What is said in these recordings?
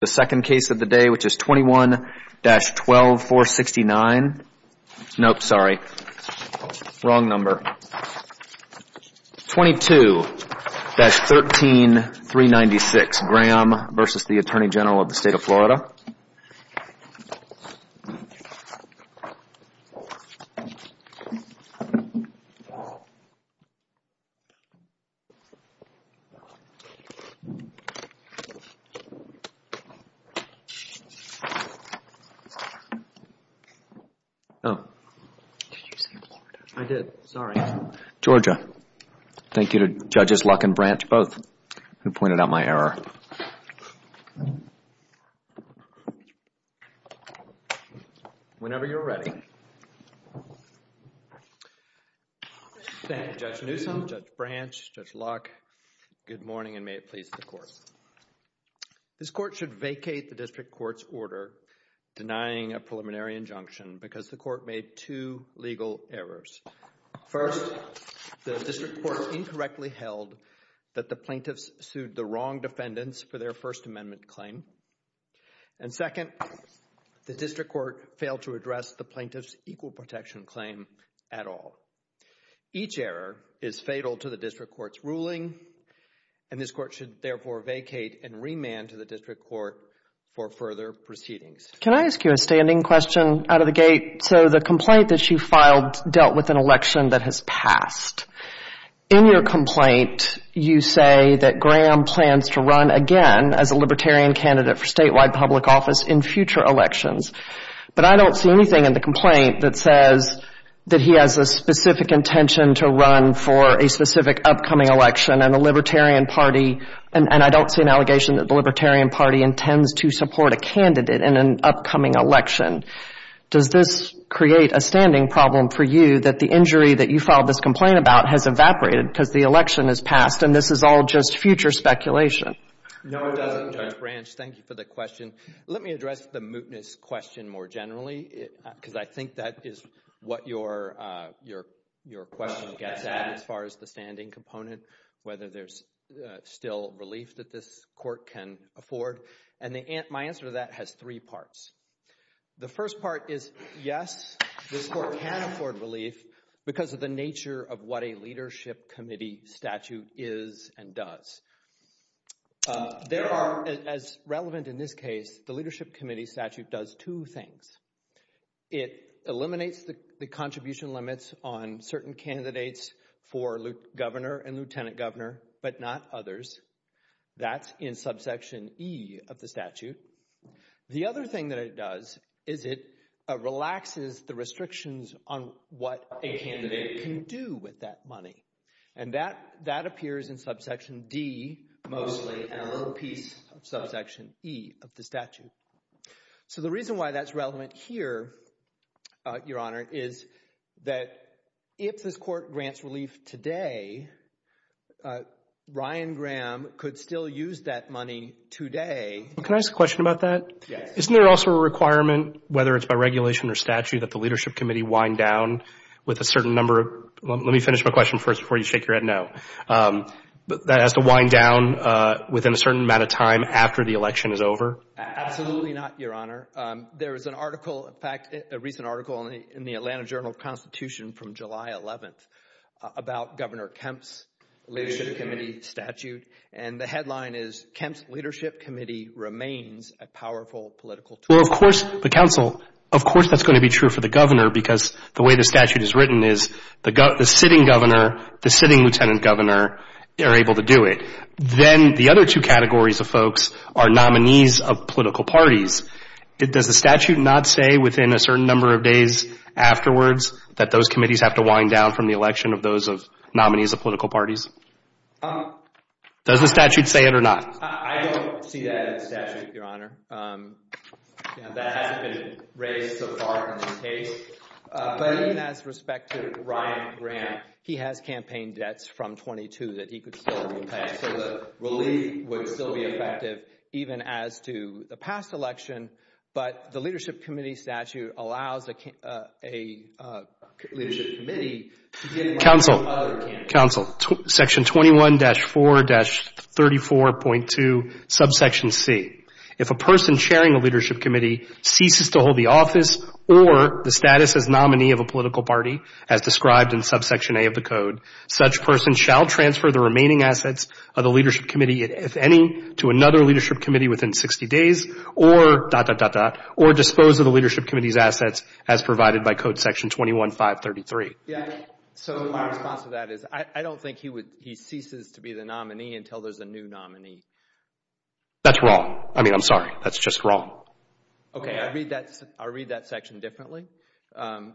The second case of the day, which is 21-12469, nope, sorry, wrong number, 22-13396, Graham v. Attorney General of the State of Florida. Georgia, thank you to Judges Luck and Branch, both, who pointed out my error. Whenever you're ready. Thank you, Judge Newsom, Judge Branch, Judge Luck. Good morning, and may it please the Court. This Court should vacate the District Court's order denying a preliminary injunction because the Court made two legal errors. First, the District Court incorrectly held that the plaintiffs sued the wrong defendants for their First Amendment claim. And second, the District Court failed to address the plaintiffs' equal protection claim at all. Each error is fatal to the District Court's ruling, and this Court should therefore vacate and remand to the District Court for further proceedings. Can I ask you a standing question out of the gate? So the complaint that you filed dealt with an election that has passed. In your complaint, you say that Graham plans to run again as a Libertarian candidate for statewide public office in future elections. But I don't see anything in the complaint that says that he has a specific intention to run for a specific upcoming election and a Libertarian party, and I don't see an allegation that the Libertarian party intends to support a candidate in an upcoming election. Does this create a standing problem for you that the injury that you filed this complaint about has evaporated because the election has passed, and this is all just future speculation? No, it doesn't, Judge Branch. Thank you for the question. Let me address the mootness question more generally because I think that is what your question gets at as far as the standing component, whether there's still relief that this Court can afford, and my answer to that has three parts. The first part is yes, this Court can afford relief because of the nature of what a leadership committee statute is and does. There are, as relevant in this case, the leadership committee statute does two things. It eliminates the contribution limits on certain candidates for governor and lieutenant governor, but not others. That's in subsection E of the statute. The other thing that it does is it relaxes the restrictions on what a candidate can do with that money, and that appears in subsection D mostly and a little piece of subsection E of the statute. So the reason why that's relevant here, Your Honor, is that if this Court grants relief today, Ryan Graham could still use that money today. Can I ask a question about that? Yes. Isn't there also a requirement, whether it's by regulation or statute, that the leadership committee wind down with a certain number of – let me finish my question first before you shake your head no. That it has to wind down within a certain amount of time after the election is over? Absolutely not, Your Honor. There is an article – in fact, a recent article in the Atlanta Journal of Constitution from July 11th about Governor Kemp's leadership committee statute, and the headline is Kemp's Leadership Committee Remains a Powerful Political Tool. Well, of course, the counsel – of course that's going to be true for the governor because the way the statute is written is the sitting governor, the sitting lieutenant governor are able to do it. Then the other two categories of folks are nominees of political parties. Does the statute not say within a certain number of days afterwards that those committees have to wind down from the election of those nominees of political parties? Does the statute say it or not? I don't see that in the statute, Your Honor. That hasn't been raised so far in the case. But even as respect to Ryan Graham, he has campaign debts from 22 that he could still repay, so the relief would still be effective even as to the past election, but the leadership committee statute allows a leadership committee to get – Counsel, counsel, section 21-4-34.2, subsection C. If a person chairing a leadership committee ceases to hold the office or the status as nominee of a political party as described in subsection A of the code, such person shall transfer the remaining assets of the leadership committee, if any, to another leadership committee within 60 days or dot, dot, dot, dot, or dispose of the leadership committee's assets as provided by code section 21-5-33. Yeah, so my response to that is I don't think he ceases to be the nominee until there's a new nominee. That's wrong. I mean, I'm sorry. That's just wrong. Okay, I read that section differently.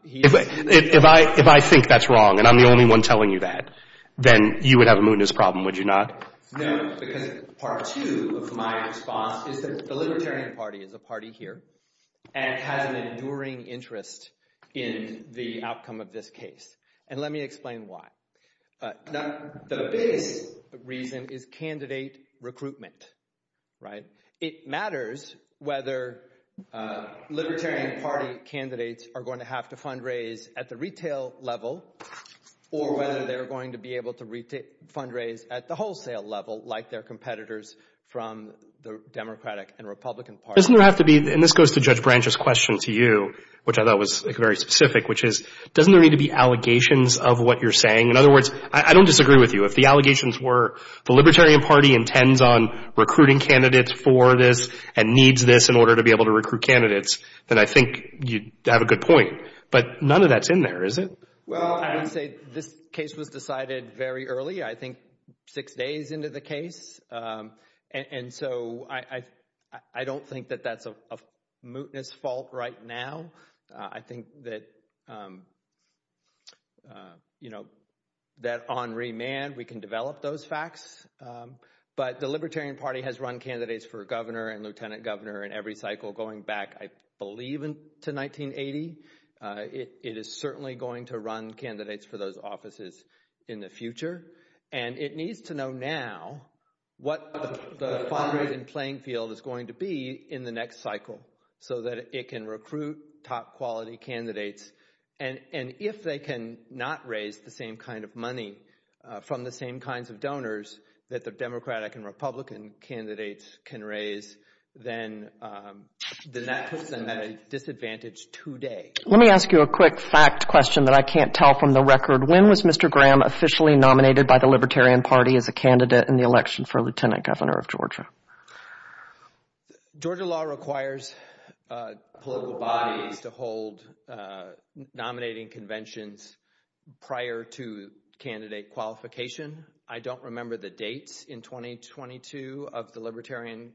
If I think that's wrong and I'm the only one telling you that, then you would have a mootness problem, would you not? No, because part two of my response is that the Libertarian Party is a party here and has an enduring interest in the outcome of this case, and let me explain why. The biggest reason is candidate recruitment, right? It matters whether Libertarian Party candidates are going to have to fundraise at the retail level or whether they're going to be able to fundraise at the wholesale level like their competitors from the Democratic and Republican parties. Doesn't there have to be, and this goes to Judge Branch's question to you, which I thought was very specific, which is, doesn't there need to be allegations of what you're saying? In other words, I don't disagree with you. If the allegations were the Libertarian Party intends on recruiting candidates for this and needs this in order to be able to recruit candidates, then I think you have a good point. But none of that's in there, is it? Well, I would say this case was decided very early, I think six days into the case. And so I don't think that that's a mootness fault right now. I think that, you know, that on remand we can develop those facts. But the Libertarian Party has run candidates for governor and lieutenant governor in every cycle going back, I believe, to 1980. It is certainly going to run candidates for those offices in the future. And it needs to know now what the fundraising playing field is going to be in the next cycle so that it can recruit top quality candidates. And if they can not raise the same kind of money from the same kinds of donors that the Democratic and Republican candidates can raise, then that puts them at a disadvantage today. Let me ask you a quick fact question that I can't tell from the record. When was Mr. Graham officially nominated by the Libertarian Party as a candidate in the election for lieutenant governor of Georgia? Georgia law requires political bodies to hold nominating conventions prior to candidate qualification. I don't remember the dates in 2022 of the Libertarian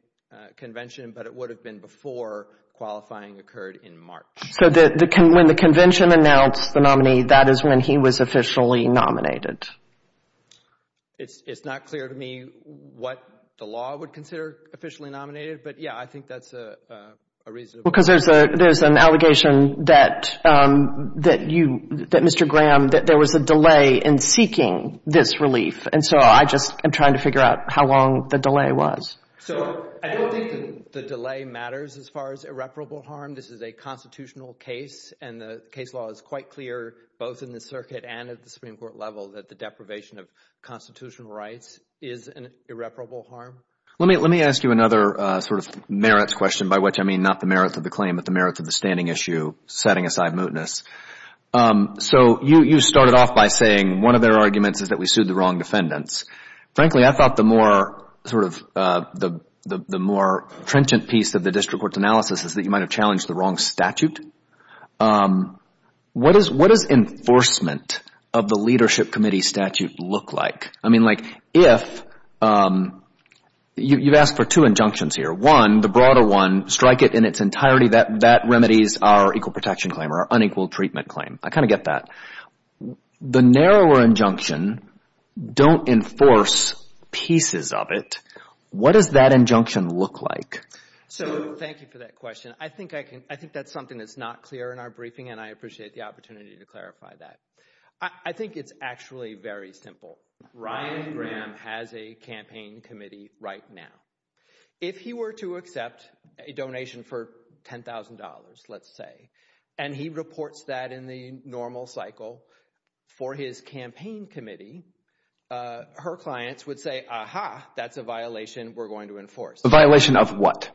Convention, but it would have been before qualifying occurred in March. So when the convention announced the nominee, that is when he was officially nominated? It's not clear to me what the law would consider officially nominated, but, yeah, I think that's a reasonable question. Because there's an allegation that Mr. Graham, that there was a delay in seeking this relief. And so I just am trying to figure out how long the delay was. So I don't think the delay matters as far as irreparable harm. This is a constitutional case, and the case law is quite clear, both in the circuit and at the Supreme Court level, that the deprivation of constitutional rights is an irreparable harm. Let me ask you another sort of merits question, by which I mean not the merits of the claim, but the merits of the standing issue, setting aside mootness. So you started off by saying one of their arguments is that we sued the wrong defendants. Frankly, I thought the more sort of the more trenchant piece of the district court's analysis is that you might have challenged the wrong statute. What does enforcement of the leadership committee statute look like? I mean, like, if you've asked for two injunctions here, one, the broader one, strike it in its entirety, that remedies our equal protection claim or our unequal treatment claim. I kind of get that. The narrower injunction, don't enforce pieces of it. What does that injunction look like? So thank you for that question. I think that's something that's not clear in our briefing, and I appreciate the opportunity to clarify that. I think it's actually very simple. Ryan Graham has a campaign committee right now. If he were to accept a donation for $10,000, let's say, and he reports that in the normal cycle for his campaign committee, her clients would say, aha, that's a violation we're going to enforce. A violation of what?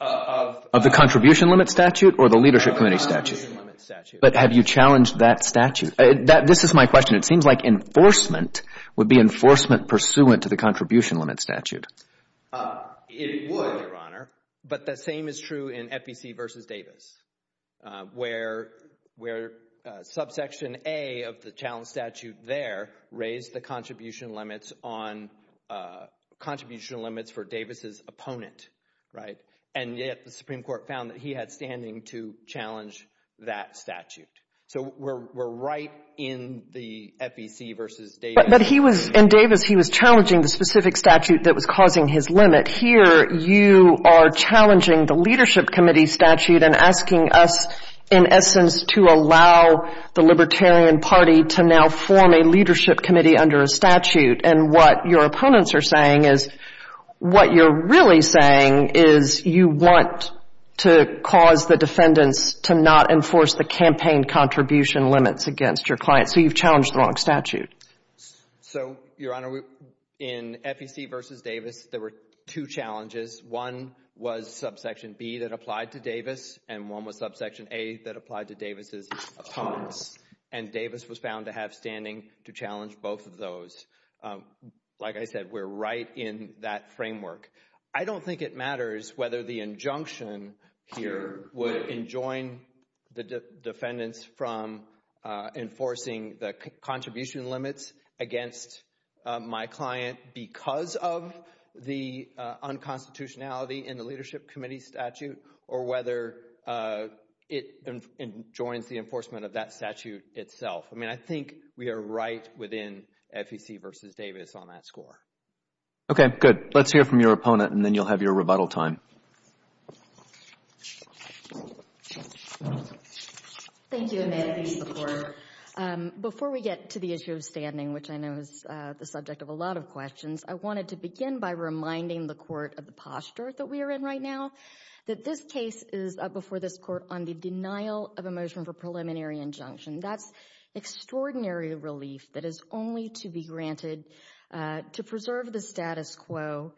Of the contribution limit statute or the leadership committee statute? Of the contribution limit statute. But have you challenged that statute? This is my question. It seems like enforcement would be enforcement pursuant to the contribution limit statute. It would, Your Honor, but the same is true in FEC versus Davis, where subsection A of the challenge statute there raised the contribution limits on contribution limits for Davis' opponent, right? And yet the Supreme Court found that he had standing to challenge that statute. So we're right in the FEC versus Davis. But he was, in Davis, he was challenging the specific statute that was causing his limit. Here you are challenging the leadership committee statute and asking us, in essence, to allow the Libertarian Party to now form a leadership committee under a statute. And what your opponents are saying is what you're really saying is you want to cause the defendants to not enforce the campaign contribution limits against your clients. So you've challenged the wrong statute. So, Your Honor, in FEC versus Davis, there were two challenges. One was subsection B that applied to Davis, and one was subsection A that applied to Davis' opponents. And Davis was found to have standing to challenge both of those. Like I said, we're right in that framework. I don't think it matters whether the injunction here would enjoin the defendants from enforcing the contribution limits against my client because of the unconstitutionality in the leadership committee statute or whether it enjoins the enforcement of that statute itself. I mean, I think we are right within FEC versus Davis on that score. Okay, good. Let's hear from your opponent, and then you'll have your rebuttal time. Thank you, and may it please the Court. Before we get to the issue of standing, which I know is the subject of a lot of questions, I wanted to begin by reminding the Court of the posture that we are in right now, that this case is before this Court on the denial of a motion for preliminary injunction. That's extraordinary relief that is only to be granted to preserve the status quo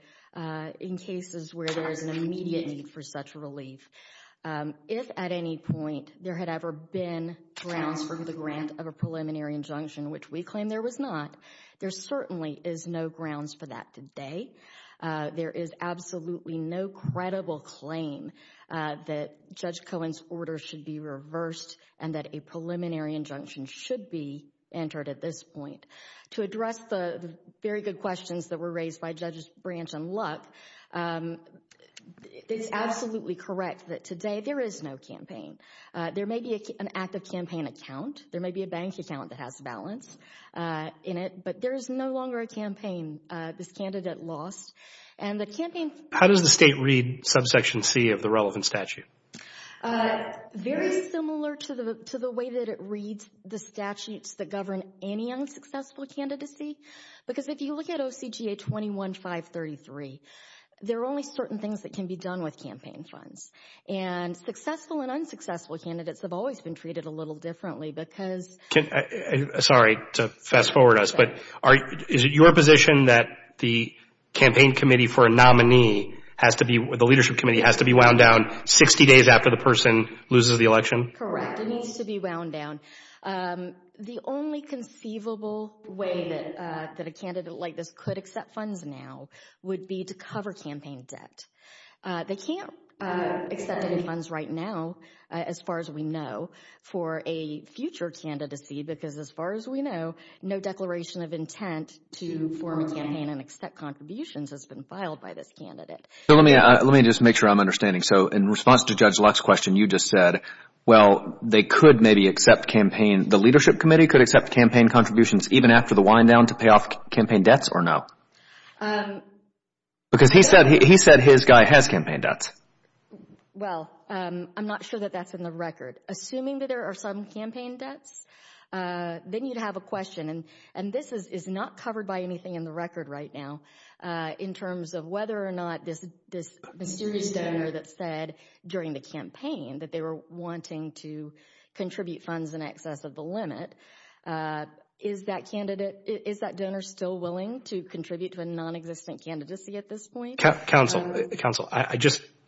in cases where there is an immediate need for such relief. If at any point there had ever been grounds for the grant of a preliminary injunction, which we claim there was not, there certainly is no grounds for that today. There is absolutely no credible claim that Judge Cohen's order should be reversed and that a preliminary injunction should be entered at this point. To address the very good questions that were raised by Judges Branch and Luck, it is absolutely correct that today there is no campaign. There may be an active campaign account. There may be a bank account that has balance in it, but there is no longer a campaign. This candidate lost. How does the State read subsection C of the relevant statute? Very similar to the way that it reads the statutes that govern any unsuccessful candidacy. Because if you look at OCGA 21-533, there are only certain things that can be done with campaign funds. And successful and unsuccessful candidates have always been treated a little differently because Sorry, to fast forward us, but is it your position that the campaign committee for a nominee has to be, the leadership committee has to be wound down 60 days after the person loses the election? Correct. It needs to be wound down. The only conceivable way that a candidate like this could accept funds now would be to cover campaign debt. They can't accept any funds right now as far as we know for a future candidacy because as far as we know, no declaration of intent to form a campaign and accept contributions has been filed by this candidate. Let me just make sure I'm understanding. So in response to Judge Luck's question, you just said, well, they could maybe accept campaign, the leadership committee could accept campaign contributions even after the wind down to pay off campaign debts or no? Because he said his guy has campaign debts. Well, I'm not sure that that's in the record. Assuming that there are some campaign debts, then you'd have a question. And this is not covered by anything in the record right now in terms of whether or not this mysterious donor that said during the campaign that they were wanting to contribute funds in excess of the limit. Is that donor still willing to contribute to a nonexistent candidacy at this point? Counsel,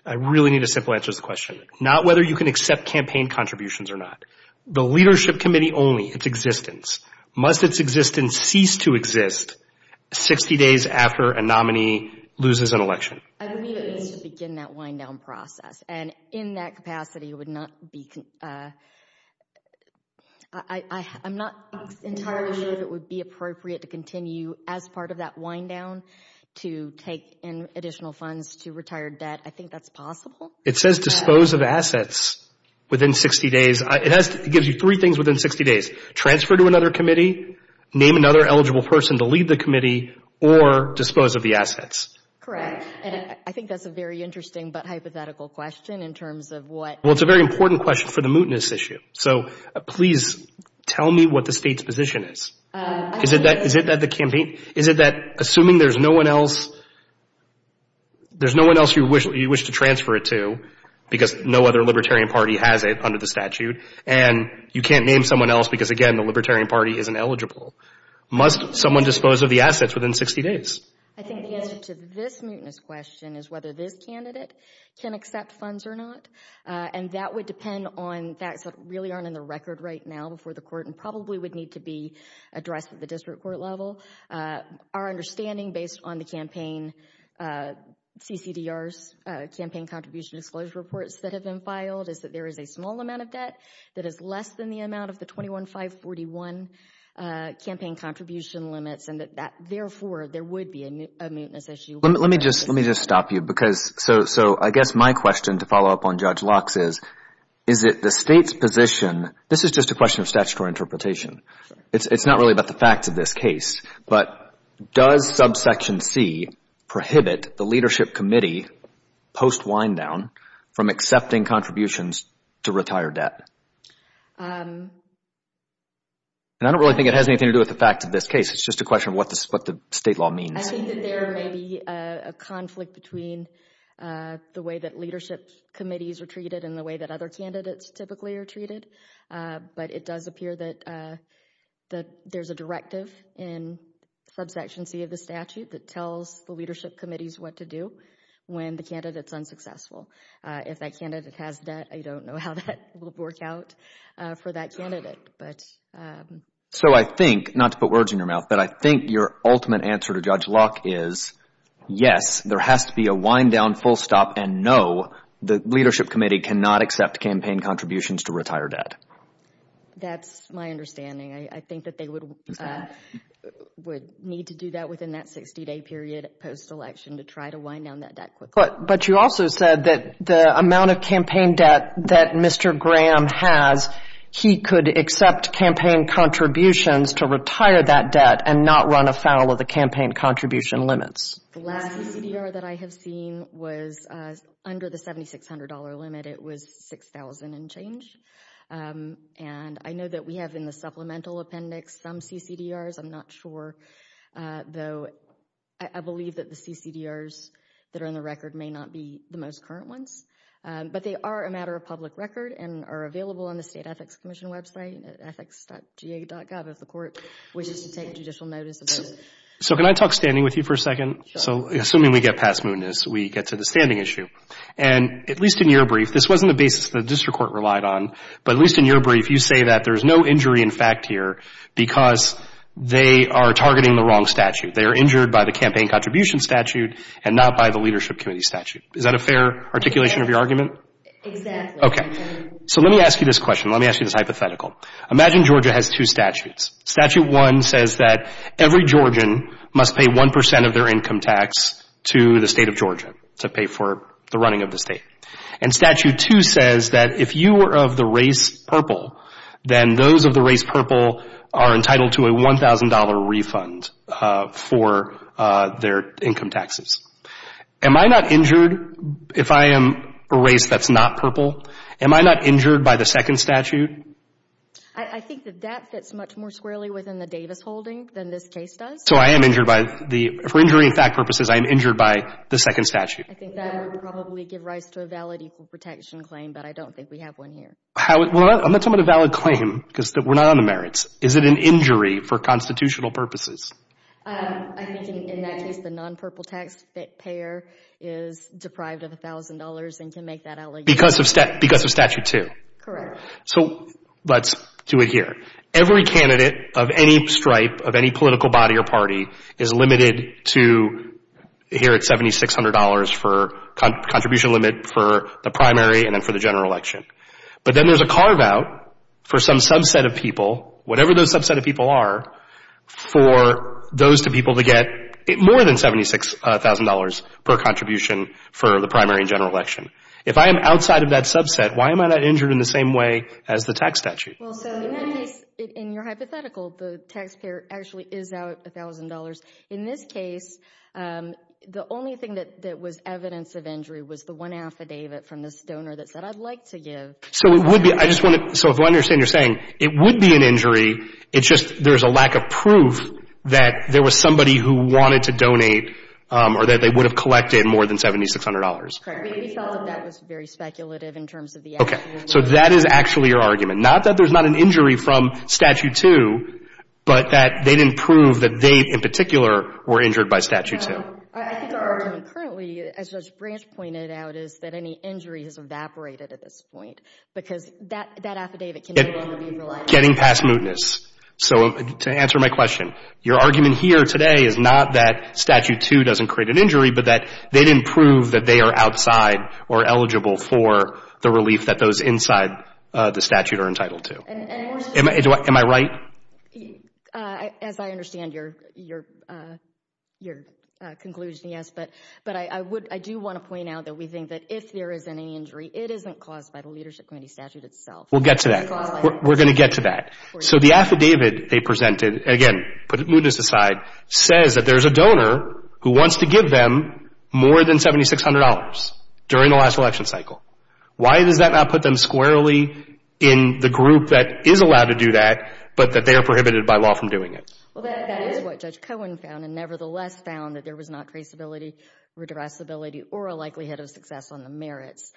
I really need a simple answer to this question. Not whether you can accept campaign contributions or not. The leadership committee only, its existence. Must its existence cease to exist 60 days after a nominee loses an election? I believe it needs to begin that wind down process. And in that capacity, I'm not entirely sure that it would be appropriate to continue as part of that wind down to take in additional funds to retire debt. I think that's possible. It says dispose of assets within 60 days. It gives you three things within 60 days. Transfer to another committee, name another eligible person to lead the committee, or dispose of the assets. Correct. And I think that's a very interesting but hypothetical question in terms of what Well, it's a very important question for the mootness issue. So please tell me what the state's position is. Is it that the campaign, is it that assuming there's no one else, there's no one else you wish to transfer it to because no other libertarian party has it under the statute, and you can't name someone else because, again, the libertarian party isn't eligible. Must someone dispose of the assets within 60 days? I think the answer to this mootness question is whether this candidate can accept funds or not. And that would depend on facts that really aren't in the record right now before the court and probably would need to be addressed at the district court level. Our understanding based on the campaign CCDR's campaign contribution disclosure reports that have been filed is that there is a small amount of debt that is less than the amount of the 21-541 campaign contribution limits and that therefore there would be a mootness issue. Let me just stop you. So I guess my question to follow up on Judge Locke's is, is it the state's position, this is just a question of statutory interpretation. It's not really about the facts of this case, but does subsection C prohibit the leadership committee post-wind down from accepting contributions to retire debt? And I don't really think it has anything to do with the facts of this case. It's just a question of what the state law means. I think that there may be a conflict between the way that leadership committees are treated and the way that other candidates typically are treated. But it does appear that there's a directive in subsection C of the statute that tells the leadership committees what to do when the candidate is unsuccessful. If that candidate has debt, I don't know how that will work out for that candidate. So I think, not to put words in your mouth, but I think your ultimate answer to Judge Locke is, yes, there has to be a wind down, full stop, and no, the leadership committee cannot accept campaign contributions to retire debt. That's my understanding. I think that they would need to do that within that 60-day period post-election to try to wind down that debt quickly. But you also said that the amount of campaign debt that Mr. Graham has, he could accept campaign contributions to retire that debt and not run afoul of the campaign contribution limits. The last CCDR that I have seen was under the $7,600 limit. It was $6,000 and change. And I know that we have in the supplemental appendix some CCDRs. I'm not sure, though. I believe that the CCDRs that are in the record may not be the most current ones. But they are a matter of public record and are available on the State Ethics Commission website, ethics.ga.gov, if the court wishes to take judicial notice of those. So can I talk standing with you for a second? Sure. So assuming we get past mootness, we get to the standing issue. And at least in your brief, this wasn't the basis the district court relied on, but at least in your brief, you say that there's no injury in fact here because they are targeting the wrong statute. They are injured by the campaign contribution statute and not by the leadership committee statute. Is that a fair articulation of your argument? Exactly. Okay. So let me ask you this question. Let me ask you this hypothetical. Imagine Georgia has two statutes. Statute 1 says that every Georgian must pay 1% of their income tax to the State of Georgia to pay for the running of the state. And Statute 2 says that if you were of the race purple, then those of the race purple are entitled to a $1,000 refund for their income taxes. Am I not injured if I am a race that's not purple? Am I not injured by the second statute? I think that that fits much more squarely within the Davis holding than this case does. So I am injured by the — for injury in fact purposes, I am injured by the second statute. I think that would probably give rise to a valid equal protection claim, but I don't think we have one here. I'm not talking about a valid claim because we're not on the merits. Is it an injury for constitutional purposes? I think in that case the non-purple tax payer is deprived of $1,000 and can make that allegation. Because of Statute 2? Correct. So let's do it here. Every candidate of any stripe of any political body or party is limited to here at $7,600 for contribution limit for the primary and then for the general election. But then there's a carve out for some subset of people, whatever those subset of people are, for those two people to get more than $76,000 per contribution for the primary and general election. If I am outside of that subset, why am I not injured in the same way as the tax statute? Well, so in your hypothetical, the taxpayer actually is out $1,000. In this case, the only thing that was evidence of injury was the one affidavit from this donor that said I'd like to give. So it would be, I just want to, so if I understand what you're saying, it would be an injury, it's just there's a lack of proof that there was somebody who wanted to donate or that they would have collected more than $7,600. Correct. We felt that that was very speculative in terms of the actual limit. Okay. So that is actually your argument. Not that there's not an injury from Statute 2, but that they didn't prove that they in particular were injured by Statute 2. I think our argument currently, as Judge Branch pointed out, is that any injury has evaporated at this point because that affidavit can no longer be relied on. Getting past mootness. So to answer my question, your argument here today is not that Statute 2 doesn't create an injury, but that they didn't prove that they are outside or eligible for the relief that those inside the statute are entitled to. Am I right? As I understand your conclusion, yes, but I do want to point out that we think that if there is any injury, it isn't caused by the Leadership Committee statute itself. We'll get to that. We're going to get to that. So the affidavit they presented, again, put mootness aside, says that there's a donor who wants to give them more than $7,600 during the last election cycle. Why does that not put them squarely in the group that is allowed to do that, but that they are prohibited by law from doing it? Well, that is what Judge Cohen found and nevertheless found, that there was not traceability, redressability, or a likelihood of success on the merits,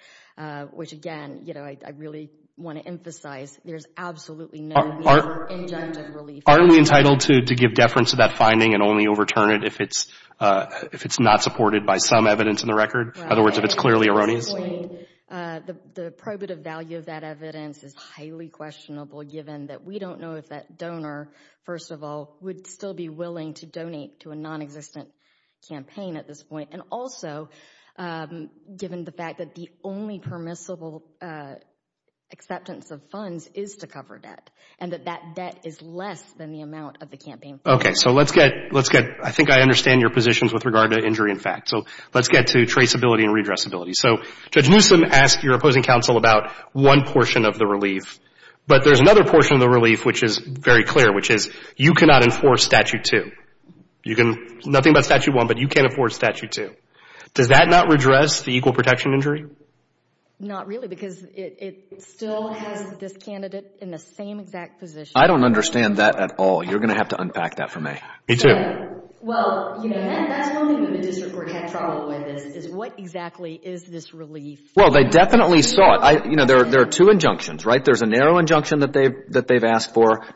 which, again, I really want to emphasize, there's absolutely no injunctive relief. Aren't we entitled to give deference to that finding and only overturn it if it's not supported by some evidence in the record? In other words, if it's clearly erroneous? At this point, the probative value of that evidence is highly questionable given that we don't know if that donor, first of all, would still be willing to donate to a nonexistent campaign at this point, and also given the fact that the only permissible acceptance of funds is to cover debt and that that debt is less than the amount of the campaign funds. Okay. So let's get, I think I understand your positions with regard to injury in fact. So let's get to traceability and redressability. So Judge Newsom asked your opposing counsel about one portion of the relief, but there's another portion of the relief which is very clear, which is you cannot enforce Statute 2. You can, nothing about Statute 1, but you can't enforce Statute 2. Does that not redress the equal protection injury? Not really because it still has this candidate in the same exact position. I don't understand that at all. You're going to have to unpack that for me. Me too. Well, you know, that's one thing the district court had trouble with is what exactly is this relief? Well, they definitely saw it. You know, there are two injunctions, right? There's a narrow injunction that they've asked for.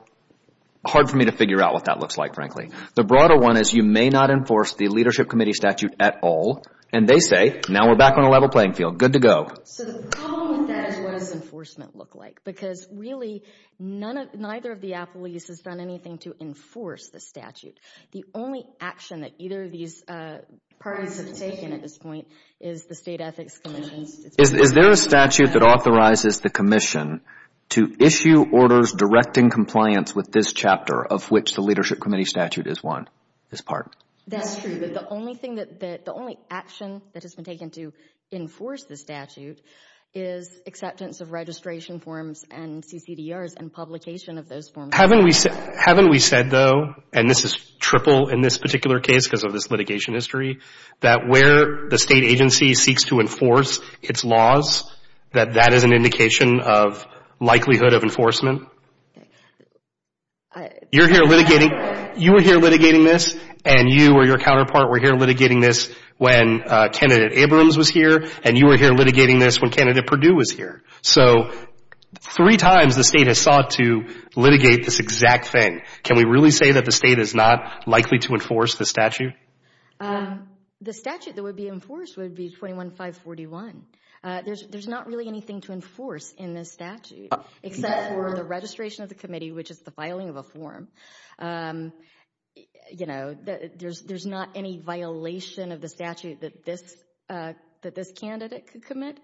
Hard for me to figure out what that looks like, frankly. The broader one is you may not enforce the leadership committee statute at all, and they say now we're back on a level playing field. Good to go. So the problem with that is what does enforcement look like? Because really none of, neither of the appellees has done anything to enforce the statute. The only action that either of these parties have taken at this point is the State Ethics Commission. Is there a statute that authorizes the commission to issue orders directing compliance with this chapter of which the leadership committee statute is one, this part? That's true. The only action that has been taken to enforce the statute is acceptance of registration forms and CCDRs and publication of those forms. Haven't we said, though, and this is triple in this particular case because of this litigation history, that where the state agency seeks to enforce its laws, that that is an indication of likelihood of enforcement? You're here litigating, you were here litigating this, and you or your counterpart were here litigating this when candidate Abrams was here, and you were here litigating this when candidate Perdue was here. So three times the state has sought to litigate this exact thing. Can we really say that the state is not likely to enforce the statute? The statute that would be enforced would be 21-541. There's not really anything to enforce in this statute except for the registration of the committee, which is the filing of a form. You know, there's not any violation of the statute that this candidate could commit.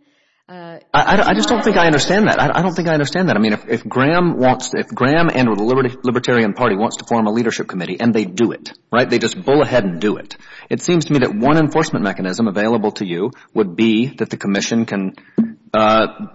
I just don't think I understand that. I don't think I understand that. I mean, if Graham and or the Libertarian Party wants to form a leadership committee and they do it, right, they just bull ahead and do it, it seems to me that one enforcement mechanism available to you would be that the commission can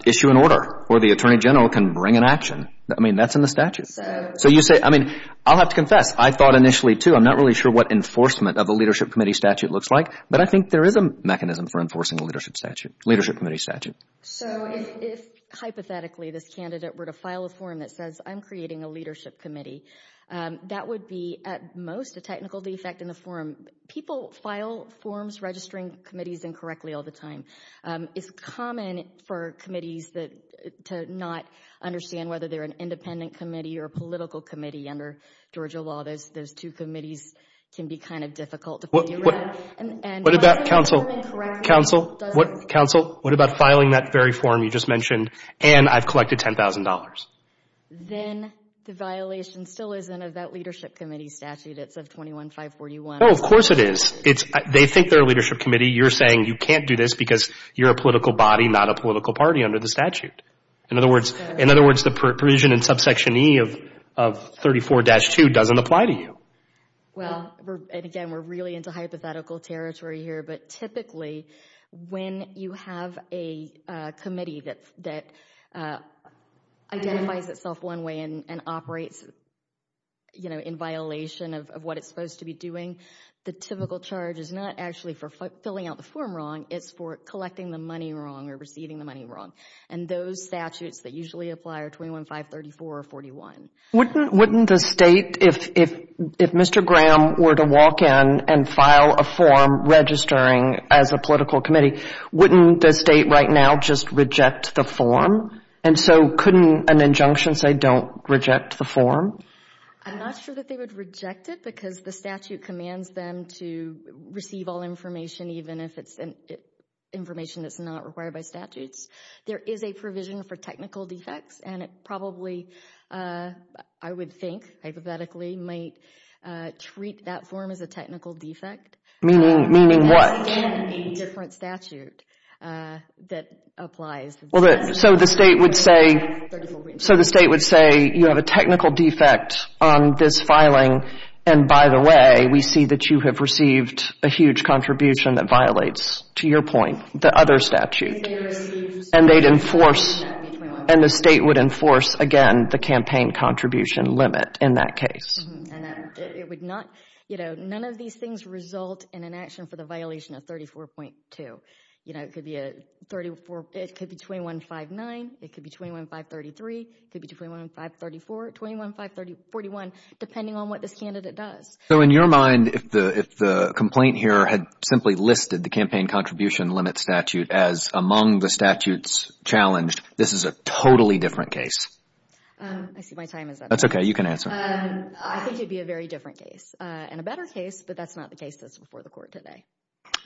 issue an order or the attorney general can bring an action. I mean, that's in the statute. So you say, I mean, I'll have to confess, I thought initially, too, I'm not really sure what enforcement of a leadership committee statute looks like, but I think there is a mechanism for enforcing a leadership statute, leadership committee statute. So if hypothetically this candidate were to file a form that says, I'm creating a leadership committee, that would be at most a technical defect in the form. People file forms registering committees incorrectly all the time. It's common for committees to not understand whether they're an independent committee or a political committee under Georgia law. Those two committees can be kind of difficult to figure out. What about, counsel, what about filing that very form you just mentioned, and I've collected $10,000? Then the violation still isn't of that leadership committee statute. It's of 21-541. Oh, of course it is. They think they're a leadership committee. You're saying you can't do this because you're a political body, not a political party under the statute. In other words, the provision in subsection E of 34-2 doesn't apply to you. Well, and again, we're really into hypothetical territory here, but typically when you have a committee that identifies itself one way and operates in violation of what it's supposed to be doing, the typical charge is not actually for filling out the form wrong. It's for collecting the money wrong or receiving the money wrong, and those statutes that usually apply are 21-534 or 41. Wouldn't the state, if Mr. Graham were to walk in and file a form registering as a political committee, wouldn't the state right now just reject the form? And so couldn't an injunction say don't reject the form? I'm not sure that they would reject it because the statute commands them to receive all information, even if it's information that's not required by statutes. There is a provision for technical defects, and it probably I would think hypothetically might treat that form as a technical defect. Meaning what? In a different statute that applies. So the state would say you have a technical defect on this filing, and by the way, we see that you have received a huge contribution that violates, to your point, the other statute. And they'd enforce, and the state would enforce, again, the campaign contribution limit in that case. It would not, you know, none of these things result in an action for the violation of 34.2. You know, it could be 21-59, it could be 21-533, it could be 21-534, 21-541, depending on what this candidate does. So in your mind, if the complaint here had simply listed the campaign contribution limit statute as among the statutes challenged, this is a totally different case. I see my time is up. That's okay, you can answer. I think it would be a very different case, and a better case, but that's not the case that's before the Court today.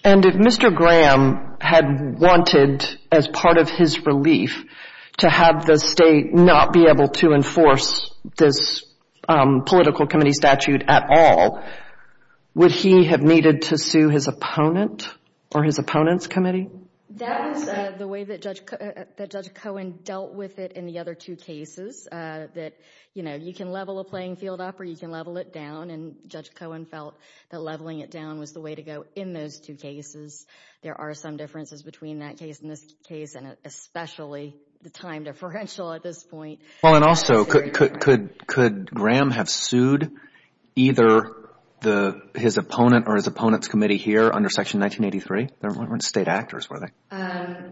And if Mr. Graham had wanted, as part of his relief, to have the state not be able to enforce this political committee statute at all, would he have needed to sue his opponent or his opponent's committee? That was the way that Judge Cohen dealt with it in the other two cases, that, you know, you can level a playing field up or you can level it down, and Judge Cohen felt that leveling it down was the way to go in those two cases. There are some differences between that case and this case, and especially the time differential at this point. Well, and also, could Graham have sued either his opponent or his opponent's committee here under Section 1983? They weren't state actors, were they?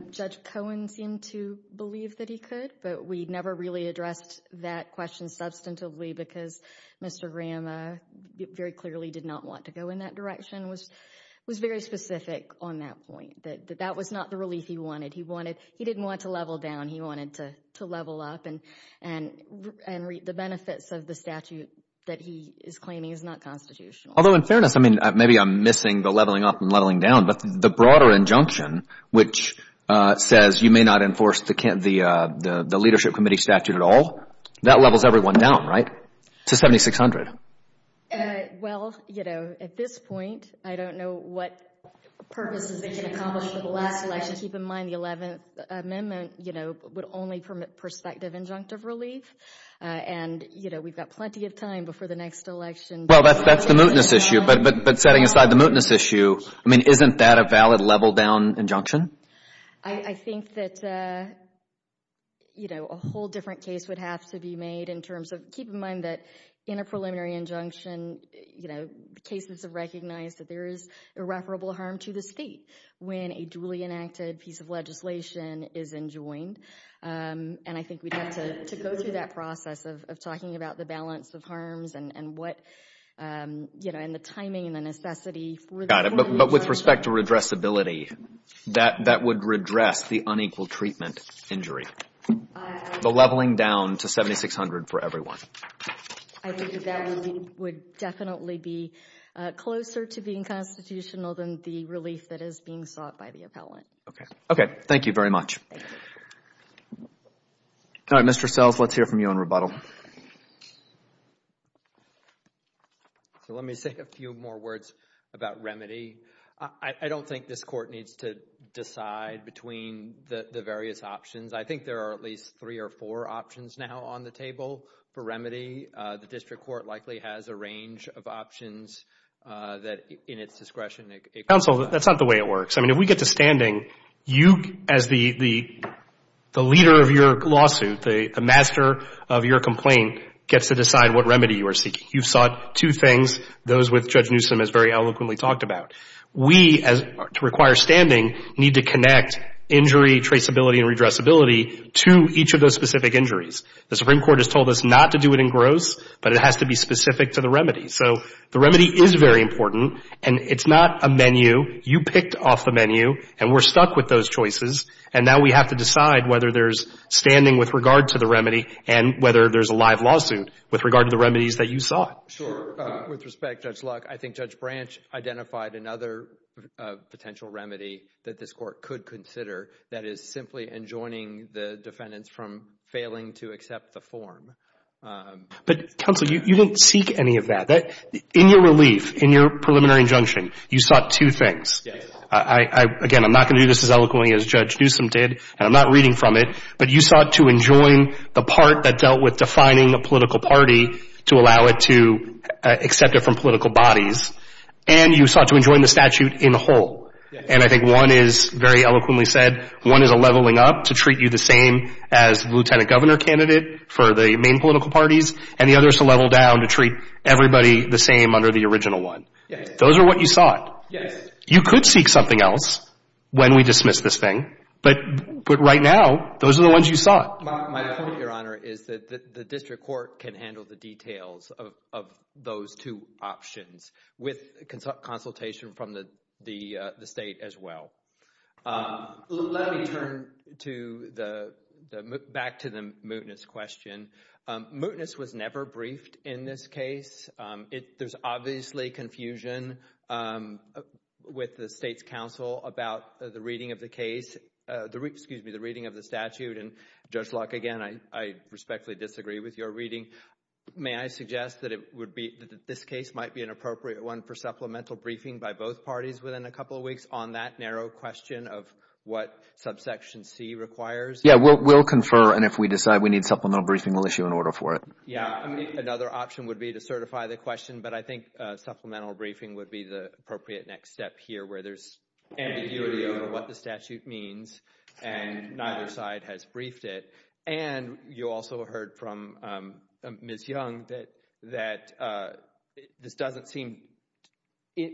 Judge Cohen seemed to believe that he could, but we never really addressed that question substantively because Mr. Graham very clearly did not want to go in that direction, was very specific on that point, that that was not the relief he wanted. He didn't want to level down, he wanted to level up and reap the benefits of the statute that he is claiming is not constitutional. Although, in fairness, maybe I'm missing the leveling up and leveling down, but the broader injunction, which says you may not enforce the leadership committee statute at all, that levels everyone down, right? To 7600. Well, you know, at this point, I don't know what purposes they can accomplish with the last election. Keep in mind the 11th Amendment, you know, would only permit prospective injunctive relief, and, you know, we've got plenty of time before the next election. Well, that's the mootness issue, but setting aside the mootness issue, I mean, isn't that a valid level down injunction? I think that, you know, a whole different case would have to be made in terms of keep in mind that in a preliminary injunction, you know, the cases have recognized that there is irreparable harm to the state when a duly enacted piece of legislation is enjoined, and I think we'd have to go through that process of talking about the balance of harms and what, you know, and the timing and the necessity for that. But with respect to redressability, that would redress the unequal treatment injury, the leveling down to 7600 for everyone. I think that would definitely be closer to being constitutional than the relief that is being sought by the appellant. Okay, thank you very much. All right, Mr. Sells, let's hear from you on rebuttal. So let me say a few more words about remedy. I don't think this Court needs to decide between the various options. I think there are at least three or four options now on the table for remedy. The district court likely has a range of options that in its discretion. Counsel, that's not the way it works. I mean, if we get to standing, you, as the leader of your lawsuit, the master of your complaint, gets to decide what remedy you are seeking. You've sought two things, those which Judge Newsom has very eloquently talked about. We, to require standing, need to connect injury, traceability, and redressability to each of those specific injuries. The Supreme Court has told us not to do it in gross, but it has to be specific to the remedy. So the remedy is very important, and it's not a menu. You picked off the menu, and we're stuck with those choices, and now we have to decide whether there's standing with regard to the remedy and whether there's a live lawsuit with regard to the remedies that you sought. Sure. With respect, Judge Luck, I think Judge Branch identified another potential remedy that this Court could consider that is simply enjoining the defendants from failing to accept the form. But, counsel, you didn't seek any of that. In your relief, in your preliminary injunction, you sought two things. Yes. Again, I'm not going to do this as eloquently as Judge Newsom did, and I'm not reading from it, but you sought to enjoin the part that dealt with defining a political party to allow it to accept it from political bodies, and you sought to enjoin the statute in whole. And I think one is very eloquently said, one is a leveling up to treat you the same as lieutenant governor candidate for the main political parties, and the other is to level down to treat everybody the same under the original one. Those are what you sought. Yes. You could seek something else when we dismiss this thing, but right now those are the ones you sought. My point, Your Honor, is that the district court can handle the details of those two options with consultation from the State as well. Let me turn back to the mootness question. Mootness was never briefed in this case. There's obviously confusion with the State's counsel about the reading of the case, excuse me, the reading of the statute, and Judge Luck, again, I respectfully disagree with your reading. May I suggest that this case might be an appropriate one for supplemental briefing by both parties within a couple of weeks on that narrow question of what subsection C requires? Yes, we'll confer. And if we decide we need supplemental briefing, we'll issue an order for it. Yes, another option would be to certify the question, but I think supplemental briefing would be the appropriate next step here where there's ambiguity over what the statute means and neither side has briefed it. And you also heard from Ms. Young that this doesn't seem,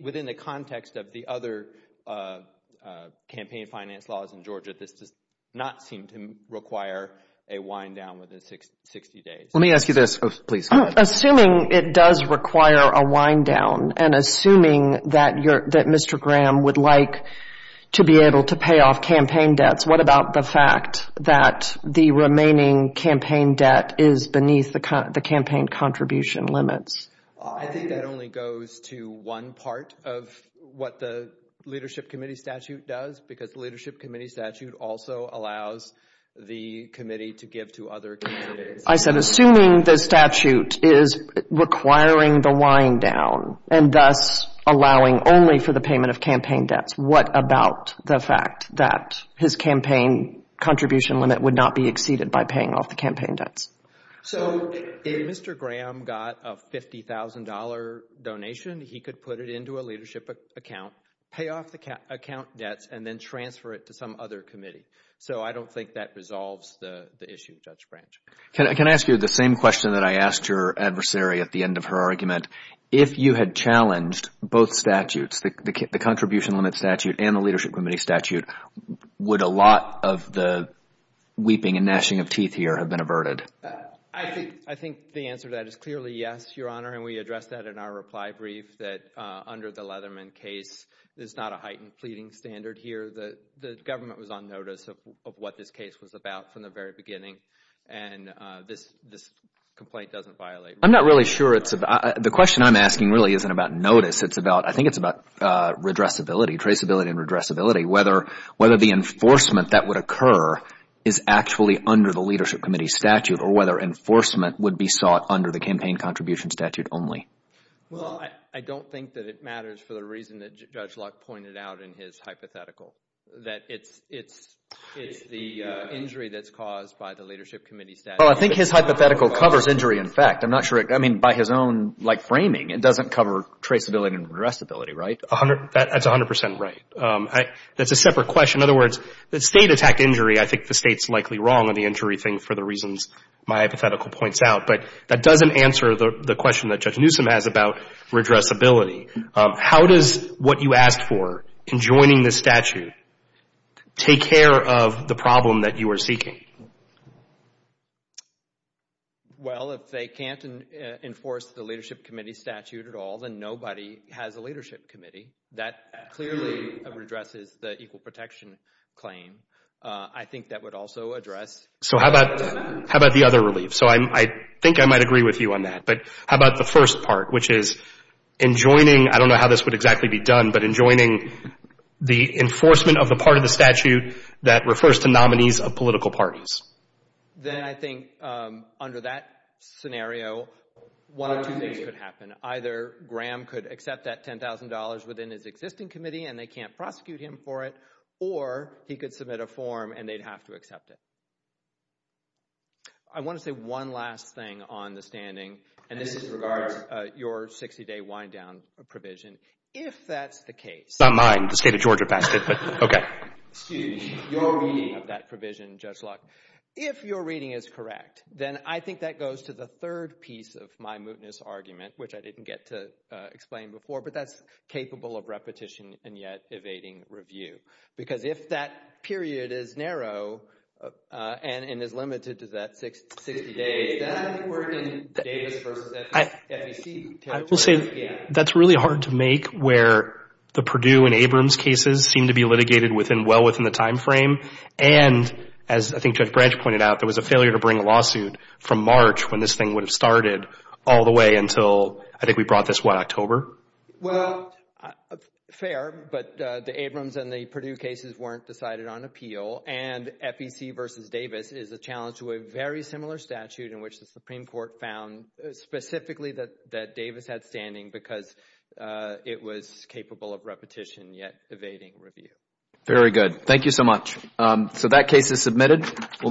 within the context of the other campaign finance laws in Georgia, this does not seem to require a wind down within 60 days. Let me ask you this. Assuming it does require a wind down and assuming that Mr. Graham would like to be able to pay off campaign debts, what about the fact that the remaining campaign debt is beneath the campaign contribution limits? I think that only goes to one part of what the leadership committee statute does because the leadership committee statute also allows the committee to give to other committees. I said assuming the statute is requiring the wind down and thus allowing only for the payment of campaign debts, what about the fact that his campaign contribution limit would not be exceeded by paying off the campaign debts? So if Mr. Graham got a $50,000 donation, he could put it into a leadership account, pay off the account debts, and then transfer it to some other committee. So I don't think that resolves the issue, Judge Branch. Can I ask you the same question that I asked your adversary at the end of her argument? If you had challenged both statutes, the contribution limit statute and the leadership committee statute, would a lot of the weeping and gnashing of teeth here have been averted? I think the answer to that is clearly yes, Your Honor, and we addressed that in our reply brief that under the Leatherman case, there's not a heightened pleading standard here. The government was on notice of what this case was about from the very beginning, and this complaint doesn't violate. I'm not really sure it's about. The question I'm asking really isn't about notice. It's about, I think it's about redressability, traceability and redressability, whether the enforcement that would occur is actually under the leadership committee statute or whether enforcement would be sought under the campaign contribution statute only. Well, I don't think that it matters for the reason that Judge Luck pointed out in his hypothetical, that it's the injury that's caused by the leadership committee statute. Well, I think his hypothetical covers injury in fact. I'm not sure. I mean, by his own framing, it doesn't cover traceability and redressability, right? That's 100 percent right. That's a separate question. In other words, the state attacked injury. I think the state's likely wrong on the injury thing for the reasons my hypothetical points out, but that doesn't answer the question that Judge Newsom has about redressability. How does what you asked for, enjoining the statute, take care of the problem that you are seeking? Well, if they can't enforce the leadership committee statute at all, then nobody has a leadership committee. That clearly redresses the equal protection claim. I think that would also address. So how about the other relief? So I think I might agree with you on that, but how about the first part, which is enjoining, I don't know how this would exactly be done, but enjoining the enforcement of the part of the statute that refers to nominees of political parties? Then I think under that scenario, one of two things could happen. Either Graham could accept that $10,000 within his existing committee and they can't prosecute him for it, or he could submit a form and they'd have to accept it. I want to say one last thing on the standing, and this regards your 60-day wind-down provision. If that's the case. It's not mine. The state of Georgia passed it, but okay. Excuse me. Your reading of that provision, Judge Locke. If your reading is correct, then I think that goes to the third piece of my mootness argument, which I didn't get to explain before, but that's capable of repetition and yet evading review. Because if that period is narrow and is limited to that 60 days, then I think we're in Davis versus FEC territory. I will say that's really hard to make, where the Purdue and Abrams cases seem to be litigated well within the time frame, and as I think Judge Branch pointed out, there was a failure to bring a lawsuit from March when this thing would have started all the way until, I think we brought this, what, October? Well, fair, but the Abrams and the Purdue cases weren't decided on appeal, and FEC versus Davis is a challenge to a very similar statute in which the Supreme Court found specifically that Davis had standing because it was capable of repetition yet evading review. Very good. Thank you so much. So that case is submitted.